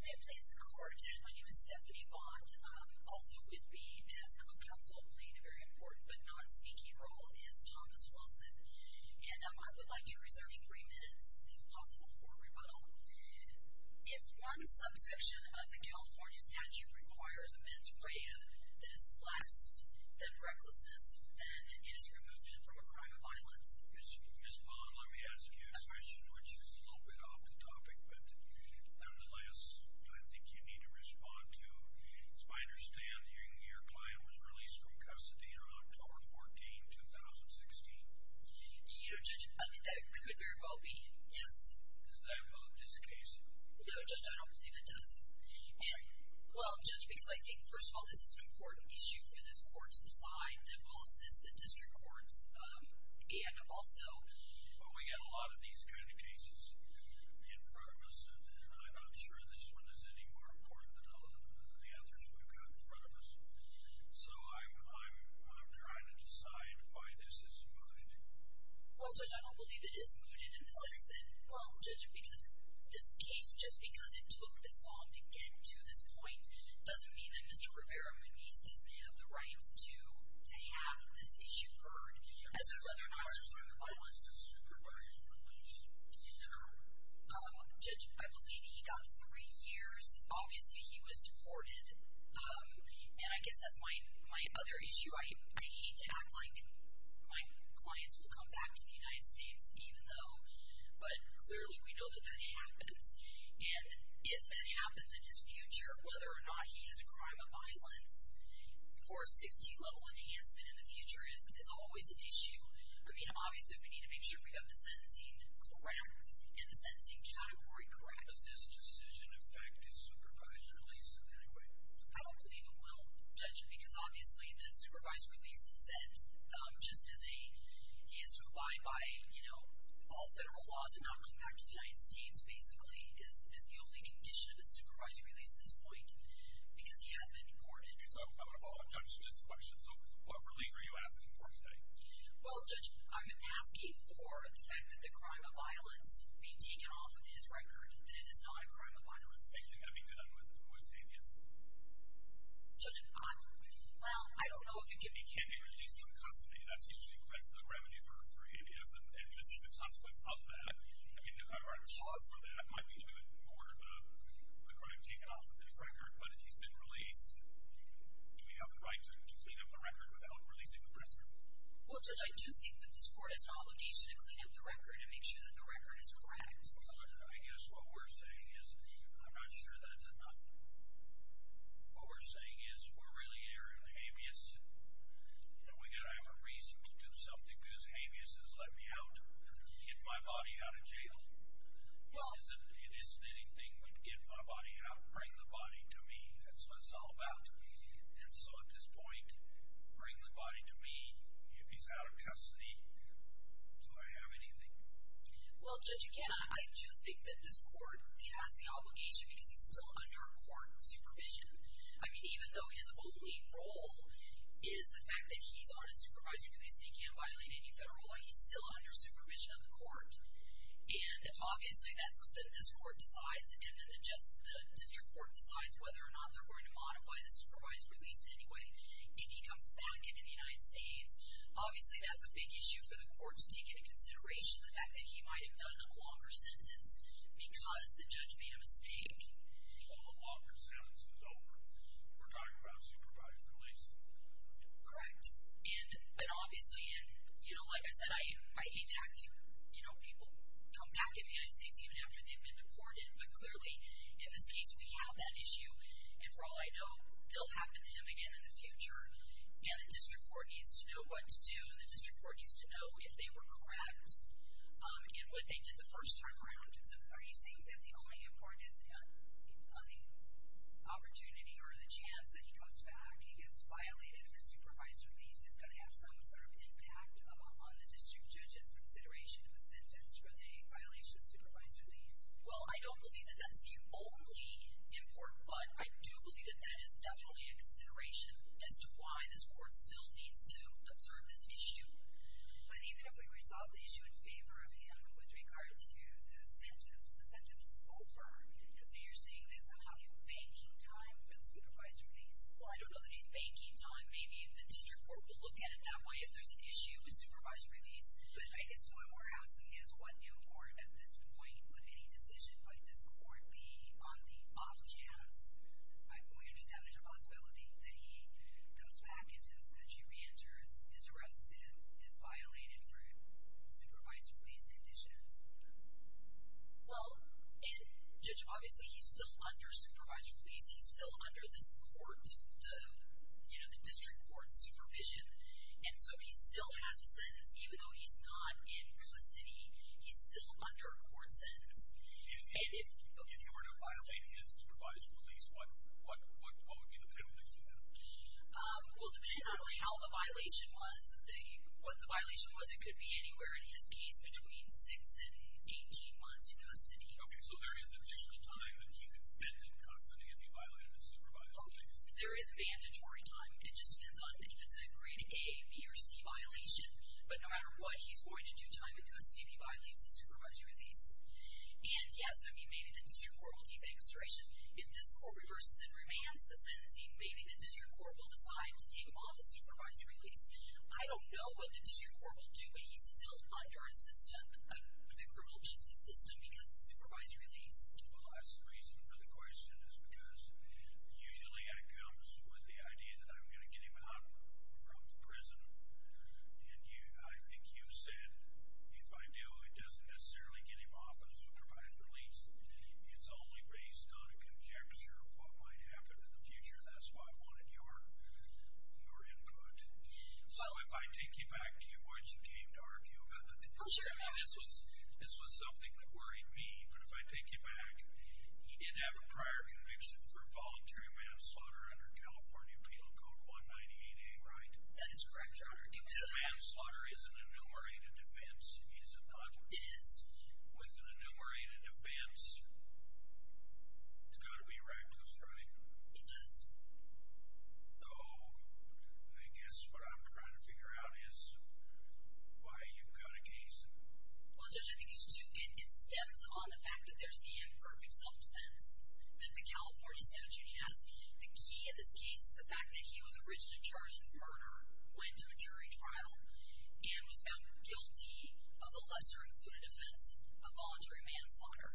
I am pleased to court. My name is Stephanie Bond. Also with me as co-counsel, playing a very important but not speaking role, is Thomas Wilson. And I would like to reserve three minutes, if possible, for rebuttal. If one subsection of the California statute requires a mens rea that is less than recklessness, then it is removal from a crime of violence. Ms. Bond, let me ask you a question, which is a little bit off the topic, but nevertheless, I think you need to respond to. As I understand, your client was released from custody on October 14, 2016. You know, Judge, I think that could very well be, yes. Is that about this case? No, Judge, I don't think it does. And, well, Judge, because I think, first of all, this is an important issue for this court to decide that will assist the district courts and also... Well, we've got a lot of these kind of cases in front of us, and I'm not sure this one is any more important than the others we've got in front of us. So I'm trying to decide why this is mooted. Well, Judge, I don't believe it is mooted in the sense that, well, Judge, because this case, just because it took this long to get to this point, doesn't mean that Mr. Rivera-Mendez does not have the rights to have this issue heard as a crime of violence. I believe he got three years. Obviously, he was deported. And I guess that's my other issue. I hate to act like my clients will come back to the United States, even though... But clearly, we know that that happens. And if that happens in his future, whether or not he has a crime of violence, for a 60-level enhancement in the future is always an issue. I mean, obviously, we need to make sure we have the sentencing correct and the sentencing category correct. Does this decision affect his supervisor, Lisa, in any way? I don't believe it will, Judge, because, obviously, the supervisor Lisa said, just as he has to abide by all federal laws and not come back to the United States, basically, is the only condition of the supervisor, Lisa, at this point, because he has been deported. Okay, so I want to follow up, Judge, with this question. So what relief are you asking for today? Well, Judge, I'm asking for the fact that the crime of violence be taken off of his record, that it is not a crime of violence. It's basically going to be done with abuse. Judge, well, I don't know if you can give me... He can be released from custody. That's usually the best revenue for abuse, and this is the consequence of that. I mean, there are laws for that. It might be that we would order the crime taken off of his record, but if he's been released, do we have the right to clean up the record without releasing the prisoner? Well, Judge, I do think that this Court has an obligation to clean up the record and make sure that the record is correct. I guess what we're saying is I'm not sure that's enough. What we're saying is we're really here in habeas, and we've got to have a reason to do something because habeas has let me out, get my body out of jail. It isn't anything but get my body out and bring the body to me. That's what it's all about. And so at this point, bring the body to me if he's out of custody. Do I have anything? Well, Judge, again, I do think that this Court has the obligation because he's still under court supervision. I mean, even though his only role is the fact that he's on a supervisory release and he can't violate any federal law, he's still under supervision of the Court. And obviously that's something this Court decides, and then the district court decides whether or not they're going to modify the supervisory release anyway if he comes back in the United States. Obviously that's a big issue for the Court to take into consideration, the fact that he might have done a longer sentence because the judge made a mistake. Well, the longer sentence is over. We're talking about a supervisory release. Correct. And obviously, like I said, I hate to have people come back in the United States even after they've been deported, but clearly in this case we have that issue. And for all I know, it'll happen to him again in the future, and the district court needs to know what to do, and the district court needs to know if they were correct in what they did the first time around. So are you saying that the only import is on the opportunity or the chance that he comes back, he gets violated for supervisory release, it's going to have some sort of impact on the district judge's consideration of a sentence for the violation of supervisory release? Well, I don't believe that that's the only import, but I do believe that that is definitely a consideration as to why this court still needs to observe this issue. But even if we resolve the issue in favor of him with regard to the sentence, the sentence is over. So you're saying there's a half a banking time for the supervisory release? Well, I don't know that he's banking time. Maybe the district court will look at it that way if there's an issue with supervisory release, but I guess what we're asking is what import at this point, would any decision by this court be on the off chance, I fully understand there's a possibility that he goes back into his country, reenters, is arrested, is violated for supervisory release conditions. Well, and Judge, obviously he's still under supervisory release. He's still under this court, you know, the district court supervision, and so he still has a sentence even though he's not in custody. He's still under a court sentence. And if he were to violate his supervisory release, what would be the penalty to that? Well, it depends on how the violation was. What the violation was, it could be anywhere in his case between 6 and 18 months in custody. Okay, so there is additional time that he can spend in custody if he violated the supervisory release. There is mandatory time. It just depends on if it's a grade A, B, or C violation. But no matter what, he's going to do time in custody if he violates the supervisory release. And, yeah, so he may be in the district court. We'll keep that consideration. If this court reverses and remands the sentencing, maybe the district court will decide to take him off the supervisory release. I don't know what the district court will do, but he's still under our system, the criminal justice system because of supervisory release. Well, that's the reason for the question is because usually that comes with the idea that I'm going to get him out from prison and I think you've said if I do, it doesn't necessarily get him off of supervisory release. It's only based on a conjecture of what might happen in the future. That's why I wanted your input. So if I take you back to when she came to argue about it, this was something that worried me. But if I take you back, he did have a prior conviction for voluntary manslaughter under California Appeal Code 198A, right? That is correct, Your Honor. So manslaughter is an enumerated defense, is it not? It is. With an enumerated defense, it's got to be reckless, right? It does. Oh, I guess what I'm trying to figure out is why you've got a case. Well, Judge, I think these two-bit steps on the fact that there's the imperfect self-defense that the California statute has, the key in this case is the fact that he was originally charged with murder, went to a jury trial, and was found guilty of a lesser-included offense of voluntary manslaughter.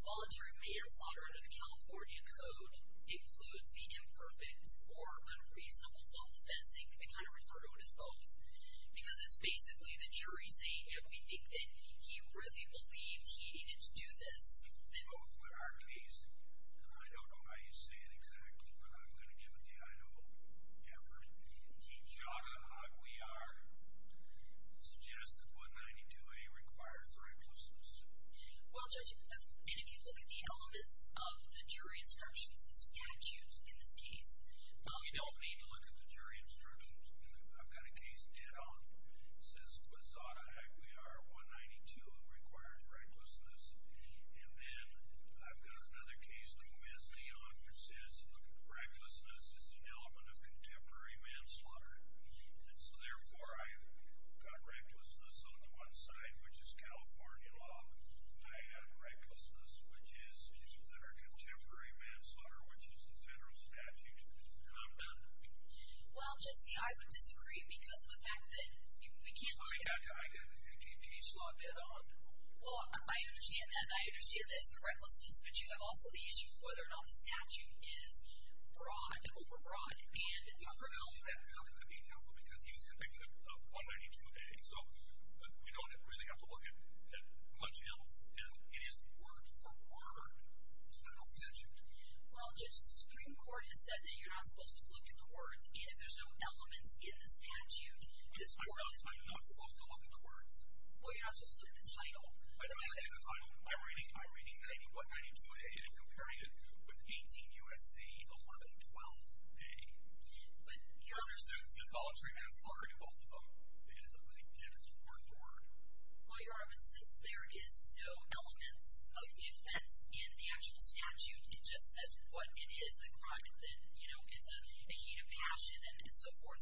Voluntary manslaughter under the California code includes the imperfect or unreasonable self-defense. They kind of refer to it as both because it's basically the jury saying everything, that he really believed he needed to do this. But with our case, and I don't know how you say it exactly, but I'm going to give it to you. I know, Debra, the jada aguiar suggests that 192A requires recklessness. Well, Judge, and if you look at the elements of the jury instructions, the statute in this case. You don't need to look at the jury instructions. I've got a case dead on that says the jada aguiar 192 requires recklessness, and then I've got another case that we're missing on that says recklessness is an element of contemporary manslaughter. And so, therefore, I've got recklessness on the one side, which is California law. I add recklessness, which is our contemporary manslaughter, which is the federal statute, and I'm done. Well, Judge, see, I would disagree because of the fact that we can't look at it. I've got a case dead on. Well, I understand that, and I understand that it's the recklessness, but you have also the issue of whether or not the statute is broad and overbroad. Well, for now, he's not going to be counsel because he's convicted of 192A, so we don't really have to look at much else. And it is word for word the federal statute. Well, Judge, the Supreme Court has said that you're not supposed to look at the words, and if there's no elements in the statute, the Supreme Court has said that. I'm not supposed to look at the words? Well, you're not supposed to look at the title. I don't look at the title. I'm reading 192A and comparing it with 18 U.S.C. 1112A. But, Your Honor. Because there's no consensual voluntary manslaughter in both of them. It is a word for word. Well, Your Honor, but since there is no elements of defense in the actual statute, it just says what it is, the crime, and then, you know, it's a heat of passion and so forth,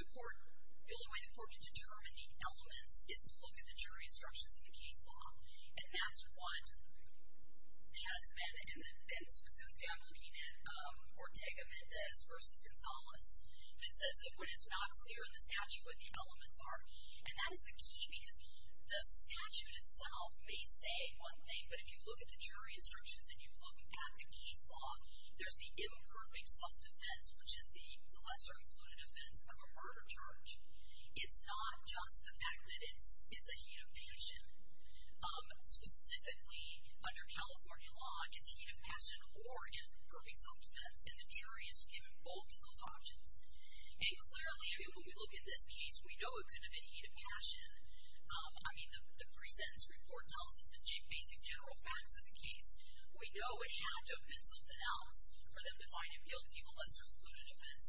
the court, the only way the court can determine the elements is to look at the jury instructions in the case law. And that's what has been, and specifically I'm looking at Ortega-Mendez versus Gonzales, that says that when it's not clear in the statute what the elements are, and that is the key because the statute itself may say one thing, but if you look at the jury instructions and you look at the case law, there's the imperfect self-defense, which is the lesser included offense of a murder charge. It's not just the fact that it's a heat of passion. Specifically, under California law, it's heat of passion or imperfect self-defense, and the jury is given both of those options. And clearly, when we look at this case, we know it could have been heat of passion. I mean, the pre-sentence report tells us the basic general facts of the case. We know it had to have been something else for them to find it guilty, the lesser included offense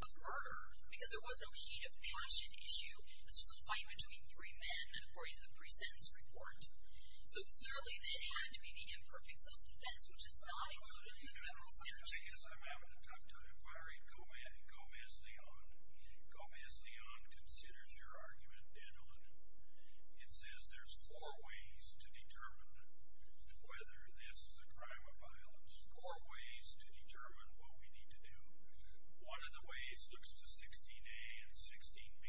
of murder, because there was no heat of passion issue. This was a fight between three men according to the pre-sentence report. So clearly, it had to be the imperfect self-defense, which is not included in the federal statute. Just because I'm having a tough time. Byron, Gomez-Leon. Gomez-Leon considers your argument in 11. It says there's four ways to determine whether this is a crime of violence, four ways to determine what we need to do. One of the ways looks to 16A and 16B.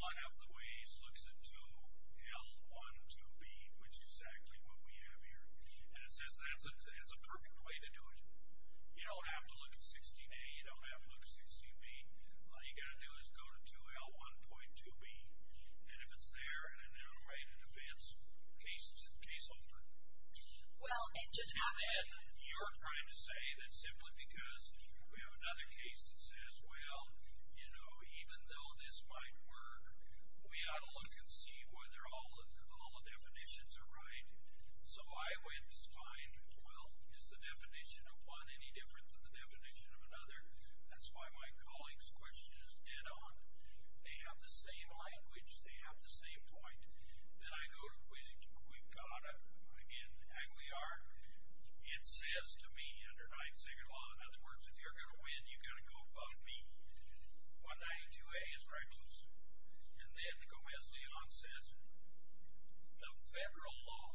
One of the ways looks at 2L12B, which is exactly what we have here. And it says that's a perfect way to do it. You don't have to look at 16A. You don't have to look at 16B. All you've got to do is go to 2L1.2B. And if it's there, and then write a defense case over it. And then you're trying to say that simply because we have another case that says, well, you know, even though this might work, we ought to look and see whether all the definitions are right. So I would find, well, is the definition of one any different than the definition of another? That's why my colleague's question is dead on. They have the same language. They have the same point. Then I go to Quigada. Again, Aguiar. It says to me, under 9th Amendment law, in other words, if you're going to win, you've got to go above me. 192A is right closer. And then Gomez-Leon says, the federal law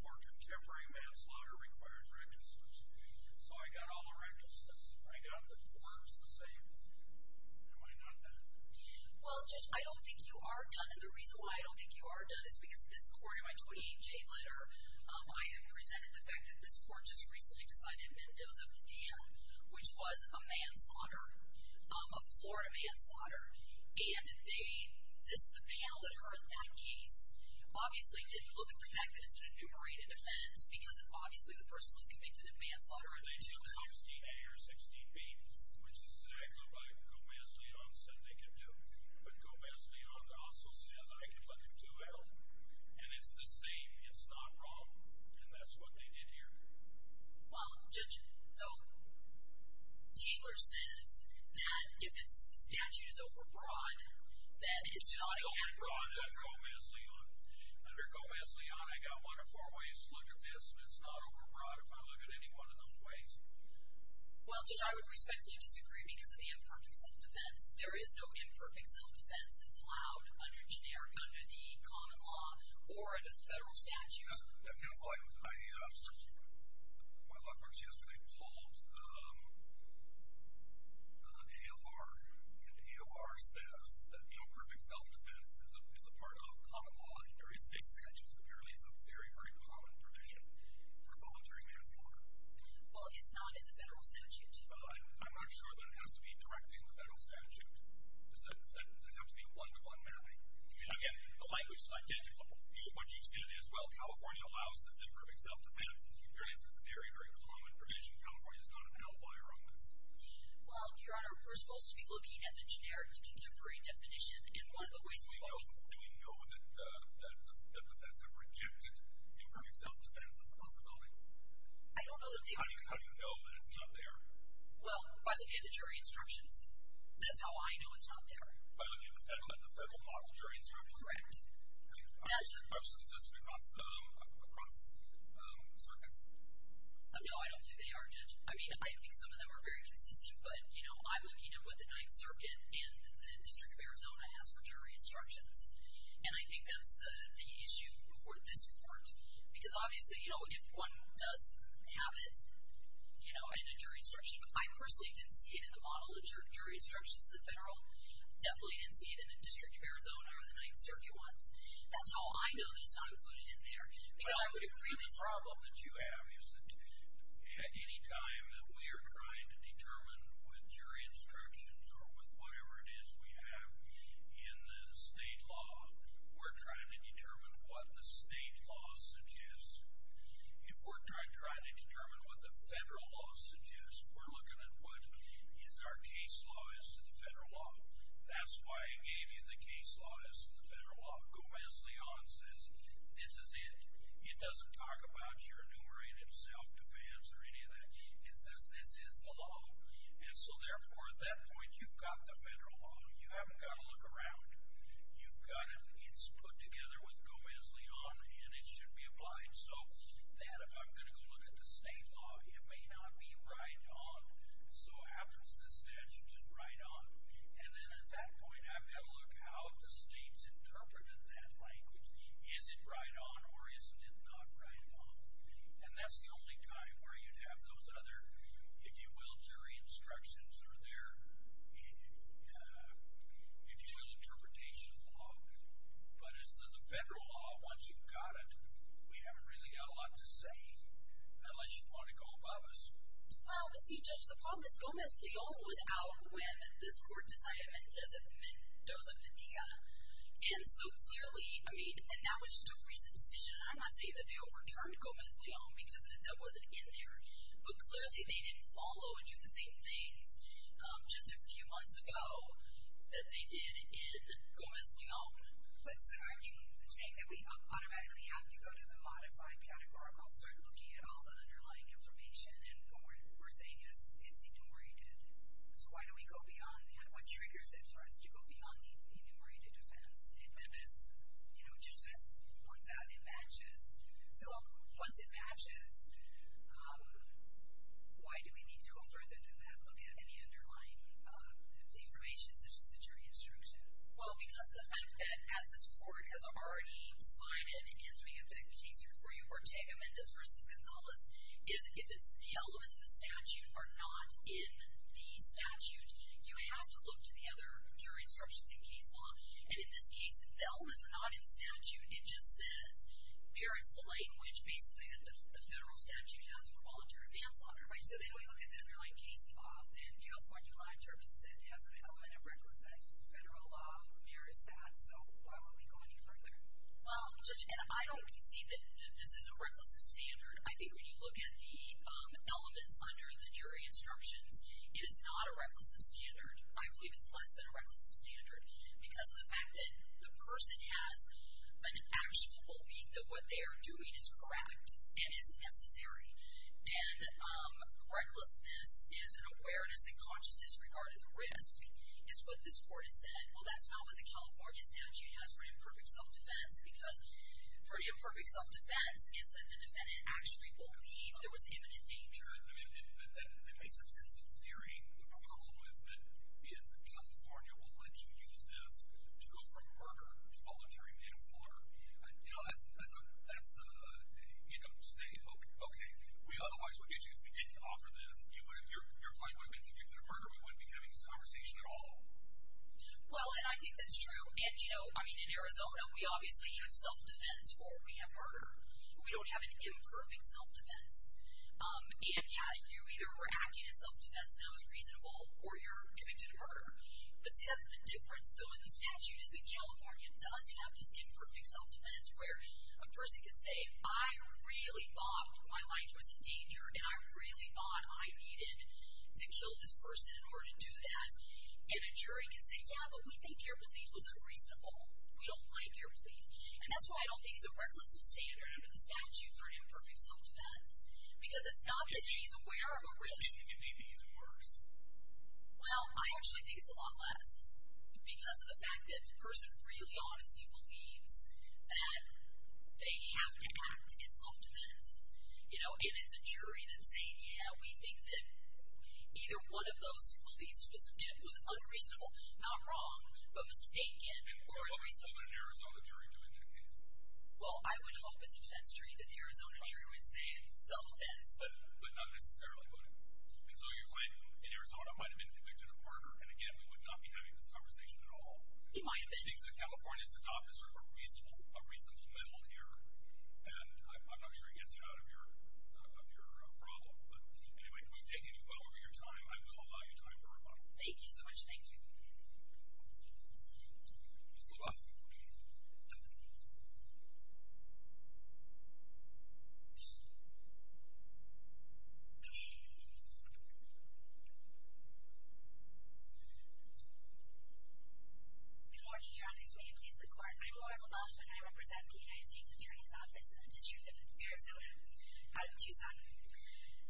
for contemporary manslaughter requires recklessness. So I got all the recklessness. I got the words the same. Am I not done? Well, Judge, I don't think you are done. And the reason why I don't think you are done is because this court, in my 28J letter, I have presented the fact that this court just recently decided to amend those of the DM, which was a manslaughter, a Florida manslaughter. And the panel that heard that case obviously didn't look at the fact that it's an enumerated offense because obviously the person was convicted of manslaughter under 2L. They took 16A or 16B, which is exactly what Gomez-Leon said they could do. But Gomez-Leon also says, I can put it 2L. And it's the same. It's not wrong. And that's what they did here. Well, Judge, Taylor says that if the statute is overbroad, that it's not a candidate. It's not overbroad under Gomez-Leon. Under Gomez-Leon, I got one of four ways to look at this, and it's not overbroad if I look at any one of those ways. Well, Judge, I would respectfully disagree because of the imperfect self-defense. There is no imperfect self-defense that's allowed under generic, under the common law, or under the federal statute. My law clerk yesterday pulled an AOR, and the AOR says that imperfect self-defense is a part of common law in various state statutes. Apparently it's a very, very common provision for voluntary manslaughter. Well, it's not in the federal statute. I'm not sure that it has to be directly in the federal statute. It doesn't have to be a one-to-one mapping. Again, the language is identical. What you said is, well, California allows this imperfect self-defense. Here it is. It's a very, very common provision. California is not an outlier on this. Well, Your Honor, we're supposed to be looking at the generic contemporary definition, and one of the ways we've always... Do we know that the feds have rejected imperfect self-defense as a possibility? I don't know that they've... How do you know that it's not there? Well, by looking at the jury instructions. That's how I know it's not there. By looking at the federal model jury instructions? Correct. Are those consistent across circuits? No, I don't think they are, Judge. I mean, I think some of them are very consistent, but, you know, I'm looking at what the Ninth Circuit and the District of Arizona has for jury instructions. And I think that's the issue for this court, because obviously, you know, if one does have it, you know, in a jury instruction... I definitely didn't see it in the District of Arizona or the Ninth Circuit once. That's how I know that it's not included in there. Well, the problem that you have is that any time that we are trying to determine with jury instructions or with whatever it is we have in the state law, we're trying to determine what the state law suggests. If we're trying to determine what the federal law suggests, we're looking at what is our case law as to the federal law. That's why I gave you the case law as to the federal law. Gomez-Leon says this is it. It doesn't talk about your enumerated self-defense or any of that. It says this is the law. And so, therefore, at that point, you've got the federal law. You haven't got to look around. You've got it. It's put together with Gomez-Leon, and it should be applied. So, then, if I'm going to go look at the state law, it may not be right on. So, what happens to the statute is right on. And then, at that point, I've got to look how the state's interpreted that language. Is it right on or is it not right on? And that's the only time where you'd have those other, if you will, jury instructions or their, if you will, interpretation of the law. But as to the federal law, once you've got it, we haven't really got a lot to say, unless you want to go above us. Well, see, Judge, the problem is Gomez-Leon was out when this court decided Mendoza-Mendia. And so, clearly, I mean, and that was just a recent decision. I'm not saying that they overturned Gomez-Leon because that wasn't in there. But, clearly, they didn't follow and do the same things just a few months ago that they did in Gomez-Leon. I'm saying that we automatically have to go to the modified categorical and start looking at all the underlying information. And what we're saying is it's enumerated. So, why don't we go beyond that? What triggers it for us to go beyond the enumerated defense? And then, as Judge says, once that matches. So, once it matches, why do we need to go further than that? Well, because of the fact that, as this court has already signed it, and, again, let me give the case here for you, Ortega-Mendez v. Gonzalez, is if the elements of the statute are not in the statute, you have to look to the other jury instructions in case law. And in this case, if the elements are not in the statute, it just says, here is the language, basically, that the federal statute has for voluntary manslaughter. Right? So, they only look at the underlying case law. In California law, it just says it has an element of reckless actions. Federal law mirrors that. So, why won't we go any further? Well, Judge, and I don't concede that this is a reckless of standard. I think when you look at the elements under the jury instructions, it is not a reckless of standard. I believe it's less than a reckless of standard because of the fact that the person has an actual belief that what they are doing is correct and is necessary. And recklessness is an awareness and conscious disregard of the risk, is what this Court has said. Well, that's not what the California statute has for imperfect self-defense because for imperfect self-defense is that the defendant actually believed there was imminent danger. I mean, it makes sense in theory. The problem with it is that California will let you use this to go from murder to voluntary manslaughter. You know, that's a, you know, say, okay, we otherwise would get you to offer this. You're probably going to be convicted of murder. We wouldn't be having this conversation at all. Well, and I think that's true. And, you know, I mean, in Arizona, we obviously have self-defense where we have murder. We don't have an imperfect self-defense. And, yeah, you either were acting in self-defense and that was reasonable or you're convicted of murder. But see, that's the difference, though, that the statute is that California does have this imperfect self-defense where a person can say, I really thought my life was in danger, and I really thought I needed to kill this person in order to do that. And a jury can say, yeah, but we think your belief was unreasonable. We don't like your belief. And that's why I don't think it's a reckless abstainer under the statute for imperfect self-defense because it's not that she's aware of a risk. It could be even worse. Well, I actually think it's a lot less because of the fact that the person really honestly believes that they have to act in self-defense. You know, and it's a jury that's saying, yeah, we think that either one of those beliefs was unreasonable, not wrong, but mistaken or unreasonable. What would an Arizona jury do in that case? Well, I would hope as a defense jury that the Arizona jury would say it's self-defense. But not necessarily motive. And so your claim in Arizona might have been convicted of murder, and, again, we would not be having this conversation at all. It might have been. She thinks that California's adopters are a reasonable middle here, and I'm not sure it gets you out of your problem. But anyway, if we've taken you well over your time, I will allow you time for rebuttal. Thank you so much. Thank you. Ms. Lovett. Good morning, Your Honor. Can we please have the court. I'm Laura Lovett, and I represent the United States Attorney's Office in the District of Arizona out of Tucson.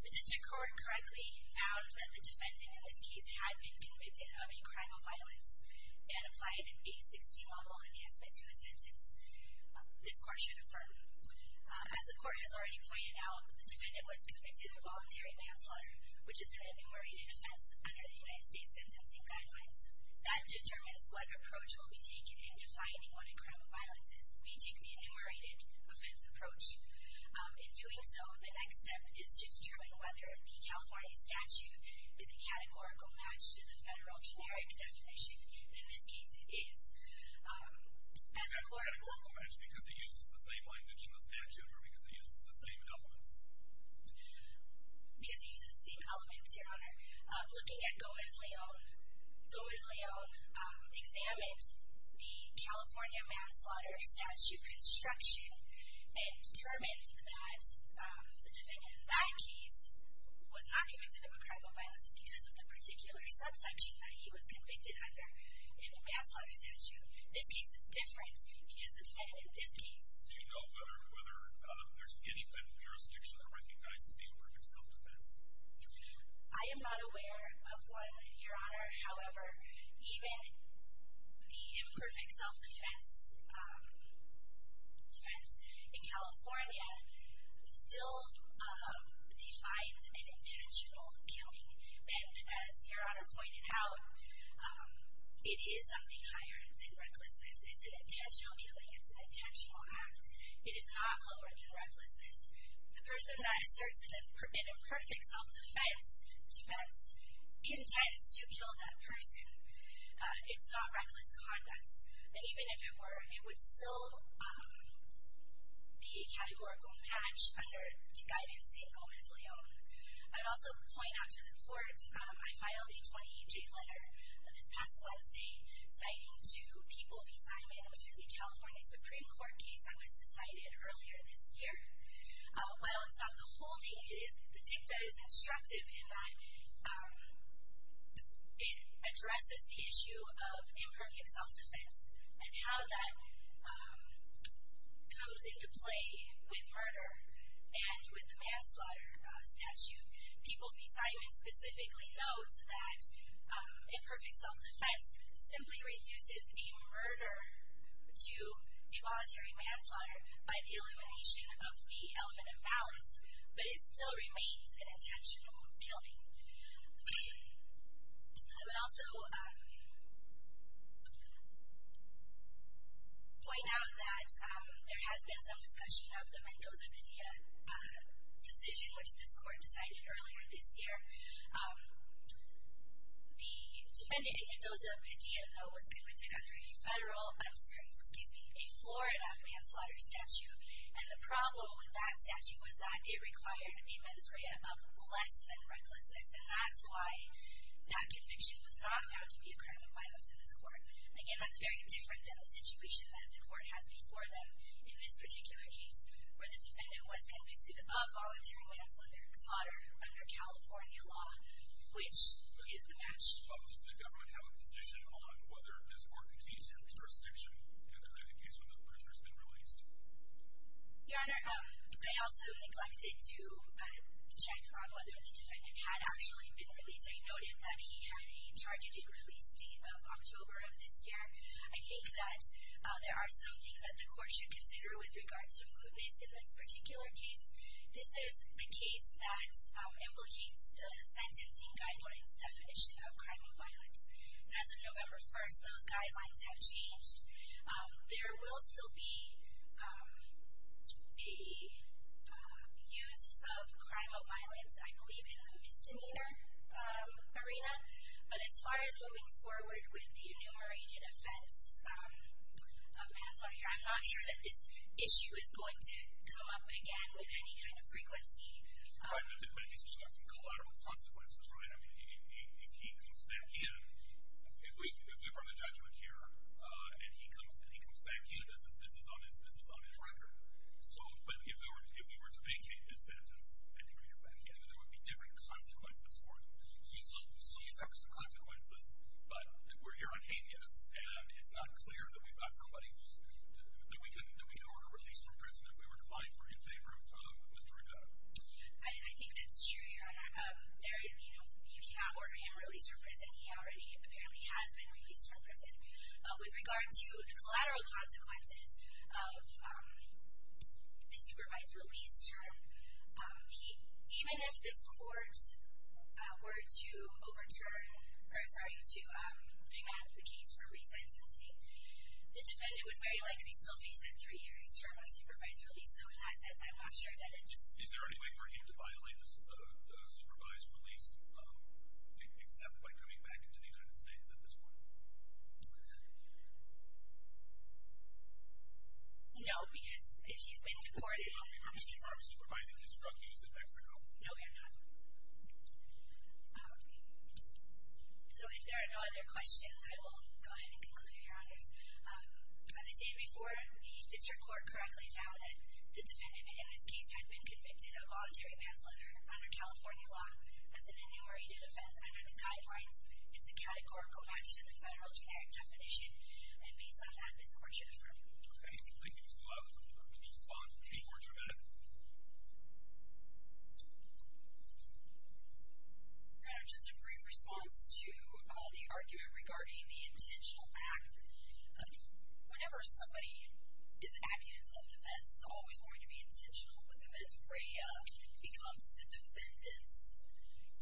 The district court correctly found that the defendant in this case had been convicted of a crime of violence and applied an A60 level enhancement to his sentence. This court should affirm. As the court has already pointed out, the defendant was convicted of voluntary manslaughter, which is an enumerated offense under the United States sentencing guidelines. That determines what approach will be taken in defining what a crime of violence is. We take the enumerated offense approach. In doing so, the next step is to determine whether the California statute is a categorical match to the federal generic definition. In this case, it is a categorical match because it uses the same language in the statute or because it uses the same elements. Because it uses the same elements, Your Honor. Looking at Gomez-Leon, Gomez-Leon examined the California manslaughter statute construction and determined that the defendant in that case was not convicted of a crime of violence because of the particular subsection that he was convicted under in the manslaughter statute. This case is different because the defendant in this case did not learn whether there's any type of jurisdiction that recognizes the imperfect self-defense. I am not aware of one, Your Honor. However, even the imperfect self-defense in California still defines an intentional killing. And as Your Honor pointed out, it is something higher than recklessness. It's an intentional killing. It's an intentional act. It is not lower than recklessness. The person that asserts an imperfect self-defense intends to kill that person. It's not reckless conduct. Even if it were, it would still be a categorical match under the guidance of Gomez-Leon. I'd also point out to the Court, I filed a 2018 letter this past Wednesday citing two people besignment, which is a California Supreme Court case that was decided earlier this year. While it's on the holding, the dicta is instructive in that it addresses the issue of imperfect self-defense and how that comes into play with murder and with the manslaughter statute. People besignment specifically notes that imperfect self-defense simply reduces a murder to involuntary manslaughter by the elimination of the element of balance, but it still remains an intentional killing. Okay. I would also point out that there has been some discussion of the Mendoza-Media decision, which this Court decided earlier this year. The defendant, Mendoza-Media, though, was convicted under a federal, I'm sorry, excuse me, a Florida manslaughter statute, and the problem with that statute was that it required a mandatory amount of less than recklessness, and that's why that conviction was not found to be a crime of violence in this Court. Again, that's very different than the situation that the Court has before them in this particular case where the defendant was convicted of voluntary manslaughter and slaughter under California law, which is the match. Does the government have a position on whether this court contains her jurisdiction, and are they the case when the prisoner has been released? Your Honor, I also neglected to check on whether the defendant had actually been released. I noted that he had a targeted release date of October of this year. I think that there are some things that the Court should consider with regard to who is in this particular case. This is a case that implicates the sentencing guidelines definition of crime of violence. As of November 1st, those guidelines have changed. There will still be the use of crime of violence, I believe, in the misdemeanor arena, but as far as moving forward with the inhumane offense of manslaughter, I'm not sure that this issue is going to come up again with any kind of frequency. Right, but he's just got some collateral consequences, right? I mean, if he comes back in, if we've run a judgment here, and he comes back in, this is on his record. But if we were to vacate this sentence and bring him back in, there would be different consequences for him. He still deserves the consequences, but we're here on habeas, and it's not clear that we've got somebody that we can order released from prison if we were to lie in favor of Mr. Rivera. I think that's true. You cannot order him released from prison. He already apparently has been released from prison. With regard to the collateral consequences of the supervised release term, even if this court were to overturn or, sorry, to bring back the case for resentencing, the defendant would very likely still face that three years term of supervised release, so I'm not sure that it's... Is there any way for him to violate the supervised release, except by coming back into the United States at this point? No, because if he's been deported... We've heard that he's already supervising his drug use in Mexico. No, we have not. So if there are no other questions, I will go ahead and conclude, Your Honors. As I stated before, the district court correctly found that the defendant in this case had been convicted of voluntary manslaughter under California law. That's an annually due defense under the guidelines. It's a categorical match to the federal generic definition, and based on that, this court should affirm. Okay, thank you so much. I'm looking forward to your response. Any more intervention? Just a brief response to the argument regarding the intentional act. Whenever somebody is acting in self-defense, it's always going to be intentional, but then it becomes the defendant's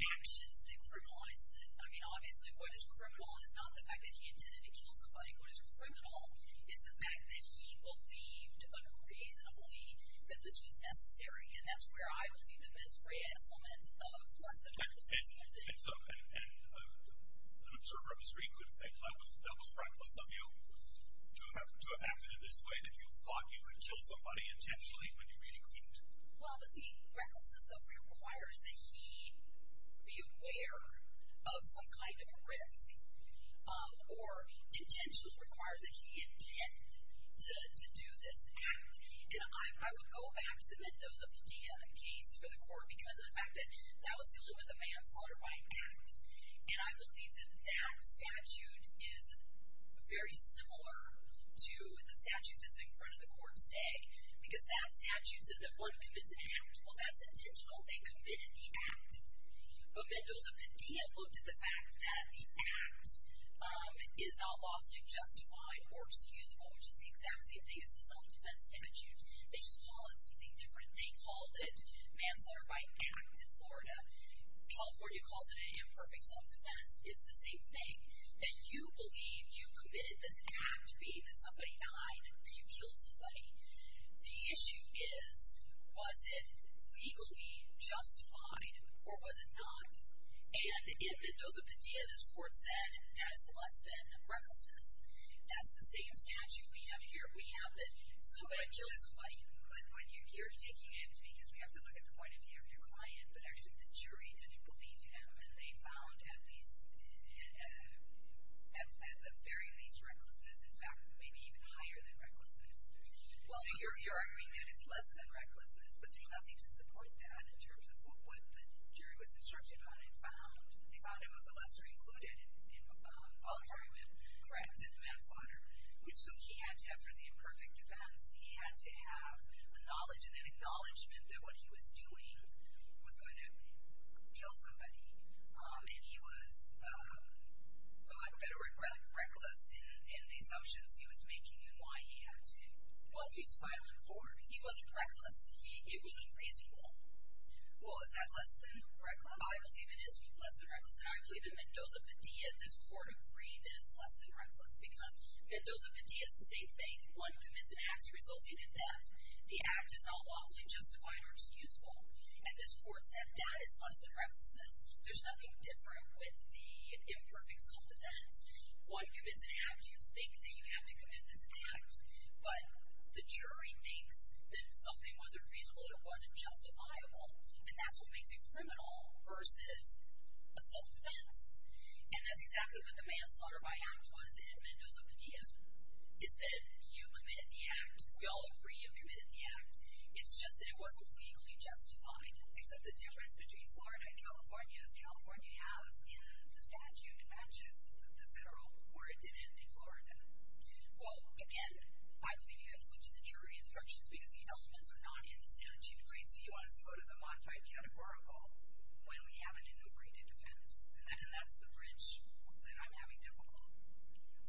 actions that criminalizes it. I mean, obviously, what is criminal is not the fact that he intended to kill somebody. What is criminal is the fact that he believed unreasonably that this was necessary, and that's where I believe that that's where he had a moment of less than recklessness. And I'm sure Rep. Street could say, I was reckless of you to have acted in this way, that you thought you could kill somebody intentionally when you really couldn't. Well, but see, recklessness, though, requires that he be aware of some kind of risk or intentionally requires that he intend to do this act. And I would go back to the Mendoza-Padilla case for the court because of the fact that that was dealing with a manslaughter by act, and I believe that that statute is very similar to the statute that's in front of the court today because that statute says that one commits an act. Well, that's intentional. They committed the act. But Mendoza-Padilla looked at the fact that the act is not lawfully justified or excusable, which is the exact same thing as the self-defense statute. They just call it something different. They called it manslaughter by act in Florida. California calls it imperfect self-defense. It's the same thing. That you believe you committed this act, be it that somebody died or you killed somebody. The issue is, was it legally justified or was it not? And in Mendoza-Padilla, this court said that is less than recklessness. That's the same statute we have here. We have it. So what I'm curious, when you're taking it, because we have to look at the point of view of your client, but actually the jury didn't believe him, and they found at the very least recklessness, in fact, may be even higher than recklessness. So you're arguing that it's less than recklessness, but there's nothing to support that in terms of what the jury was instructed on and found. They found him of the lesser included in voluntary will, correct, in manslaughter. So he had to have, for the imperfect defense, he had to have a knowledge and an acknowledgment that what he was doing was going to kill somebody. And he was, for lack of a better word, reckless in the assumptions he was making and why he had to, well, he was filing for it. He wasn't reckless. It was unreasonable. Well, is that less than reckless? I believe it is less than reckless, and I believe in Mendoza-Padilla, this court agreed that it's less than reckless because Mendoza-Padilla is the same thing. One commits an act resulting in death. The act is not lawfully justified or excusable, and this court said that is less than recklessness. There's nothing different with the imperfect self-defense. One commits an act. You think that you have to commit this act, but the jury thinks that something wasn't reasonable and it wasn't justifiable, and that's what makes it criminal versus a self-defense, and that's exactly what the manslaughter by act was in Mendoza-Padilla, is that you committed the act. We all agree you committed the act. It's just that it wasn't legally justified, except the difference between Florida and California is California has the statute that matches the federal, or it didn't in Florida. Well, again, I believe you have to look to the jury instructions because the elements are not in the statute. So you want us to go to the modified categorical when we have an integrated defense, and that's the bridge that I'm having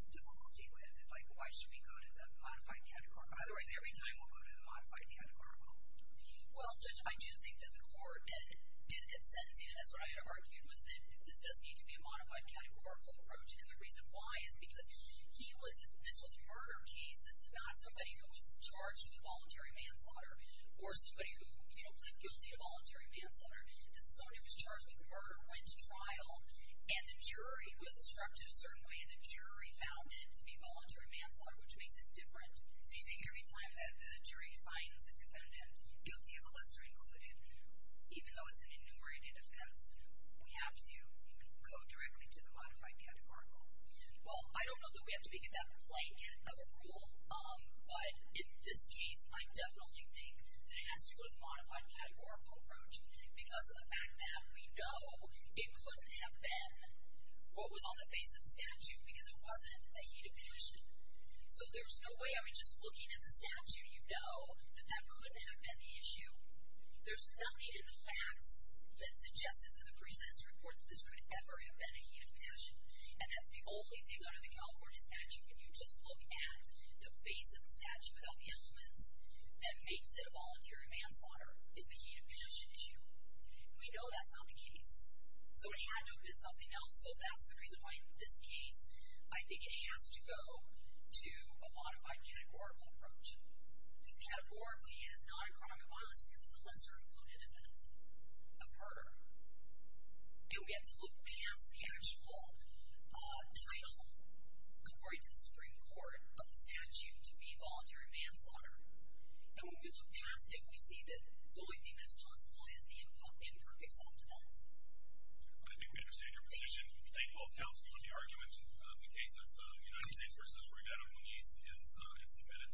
difficulty with. It's like why should we go to the modified categorical? Otherwise, every time we'll go to the modified categorical. Well, Judge, I do think that the court in sentencing, and that's what I argued, was that this does need to be a modified categorical approach, and the reason why is because this was a murder case. This is not somebody who was charged with voluntary manslaughter or somebody who, you know, pled guilty to voluntary manslaughter. This is somebody who was charged with murder, went to trial, and the jury was instructed a certain way, and the jury found it to be voluntary manslaughter, which makes it different. So you think every time that the jury finds a defendant, guilty of a lesser included, even though it's an enumerated offense, we have to go directly to the modified categorical. Well, I don't know that we have to pick at that blanket of a rule, but in this case I definitely think that it has to go to the modified categorical approach because of the fact that we know it couldn't have been what was on the face of the statute because it wasn't a heat of passion. So there's no way, I mean, just looking at the statute, you know that that couldn't have been the issue. There's nothing in the facts that suggested to the pre-sentence report that this could ever have been a heat of passion, and that's the only thing under the California statute. When you just look at the face of the statute without the elements, that makes it a voluntary manslaughter is the heat of passion issue. We know that's not the case, so it had to have been something else, and so that's the reason why in this case I think it has to go to a modified categorical approach because categorically it is not a crime of violence because it's a lesser-included offense of murder. And we have to look past the actual title, according to the Supreme Court, of the statute to be voluntary manslaughter. And when we look past it, we see that the only thing that's possible is the imperfect self-defense. I think we understand your position. Thank you all for helping on the argument. The case of the United States versus Rueda and Moniz is submitted.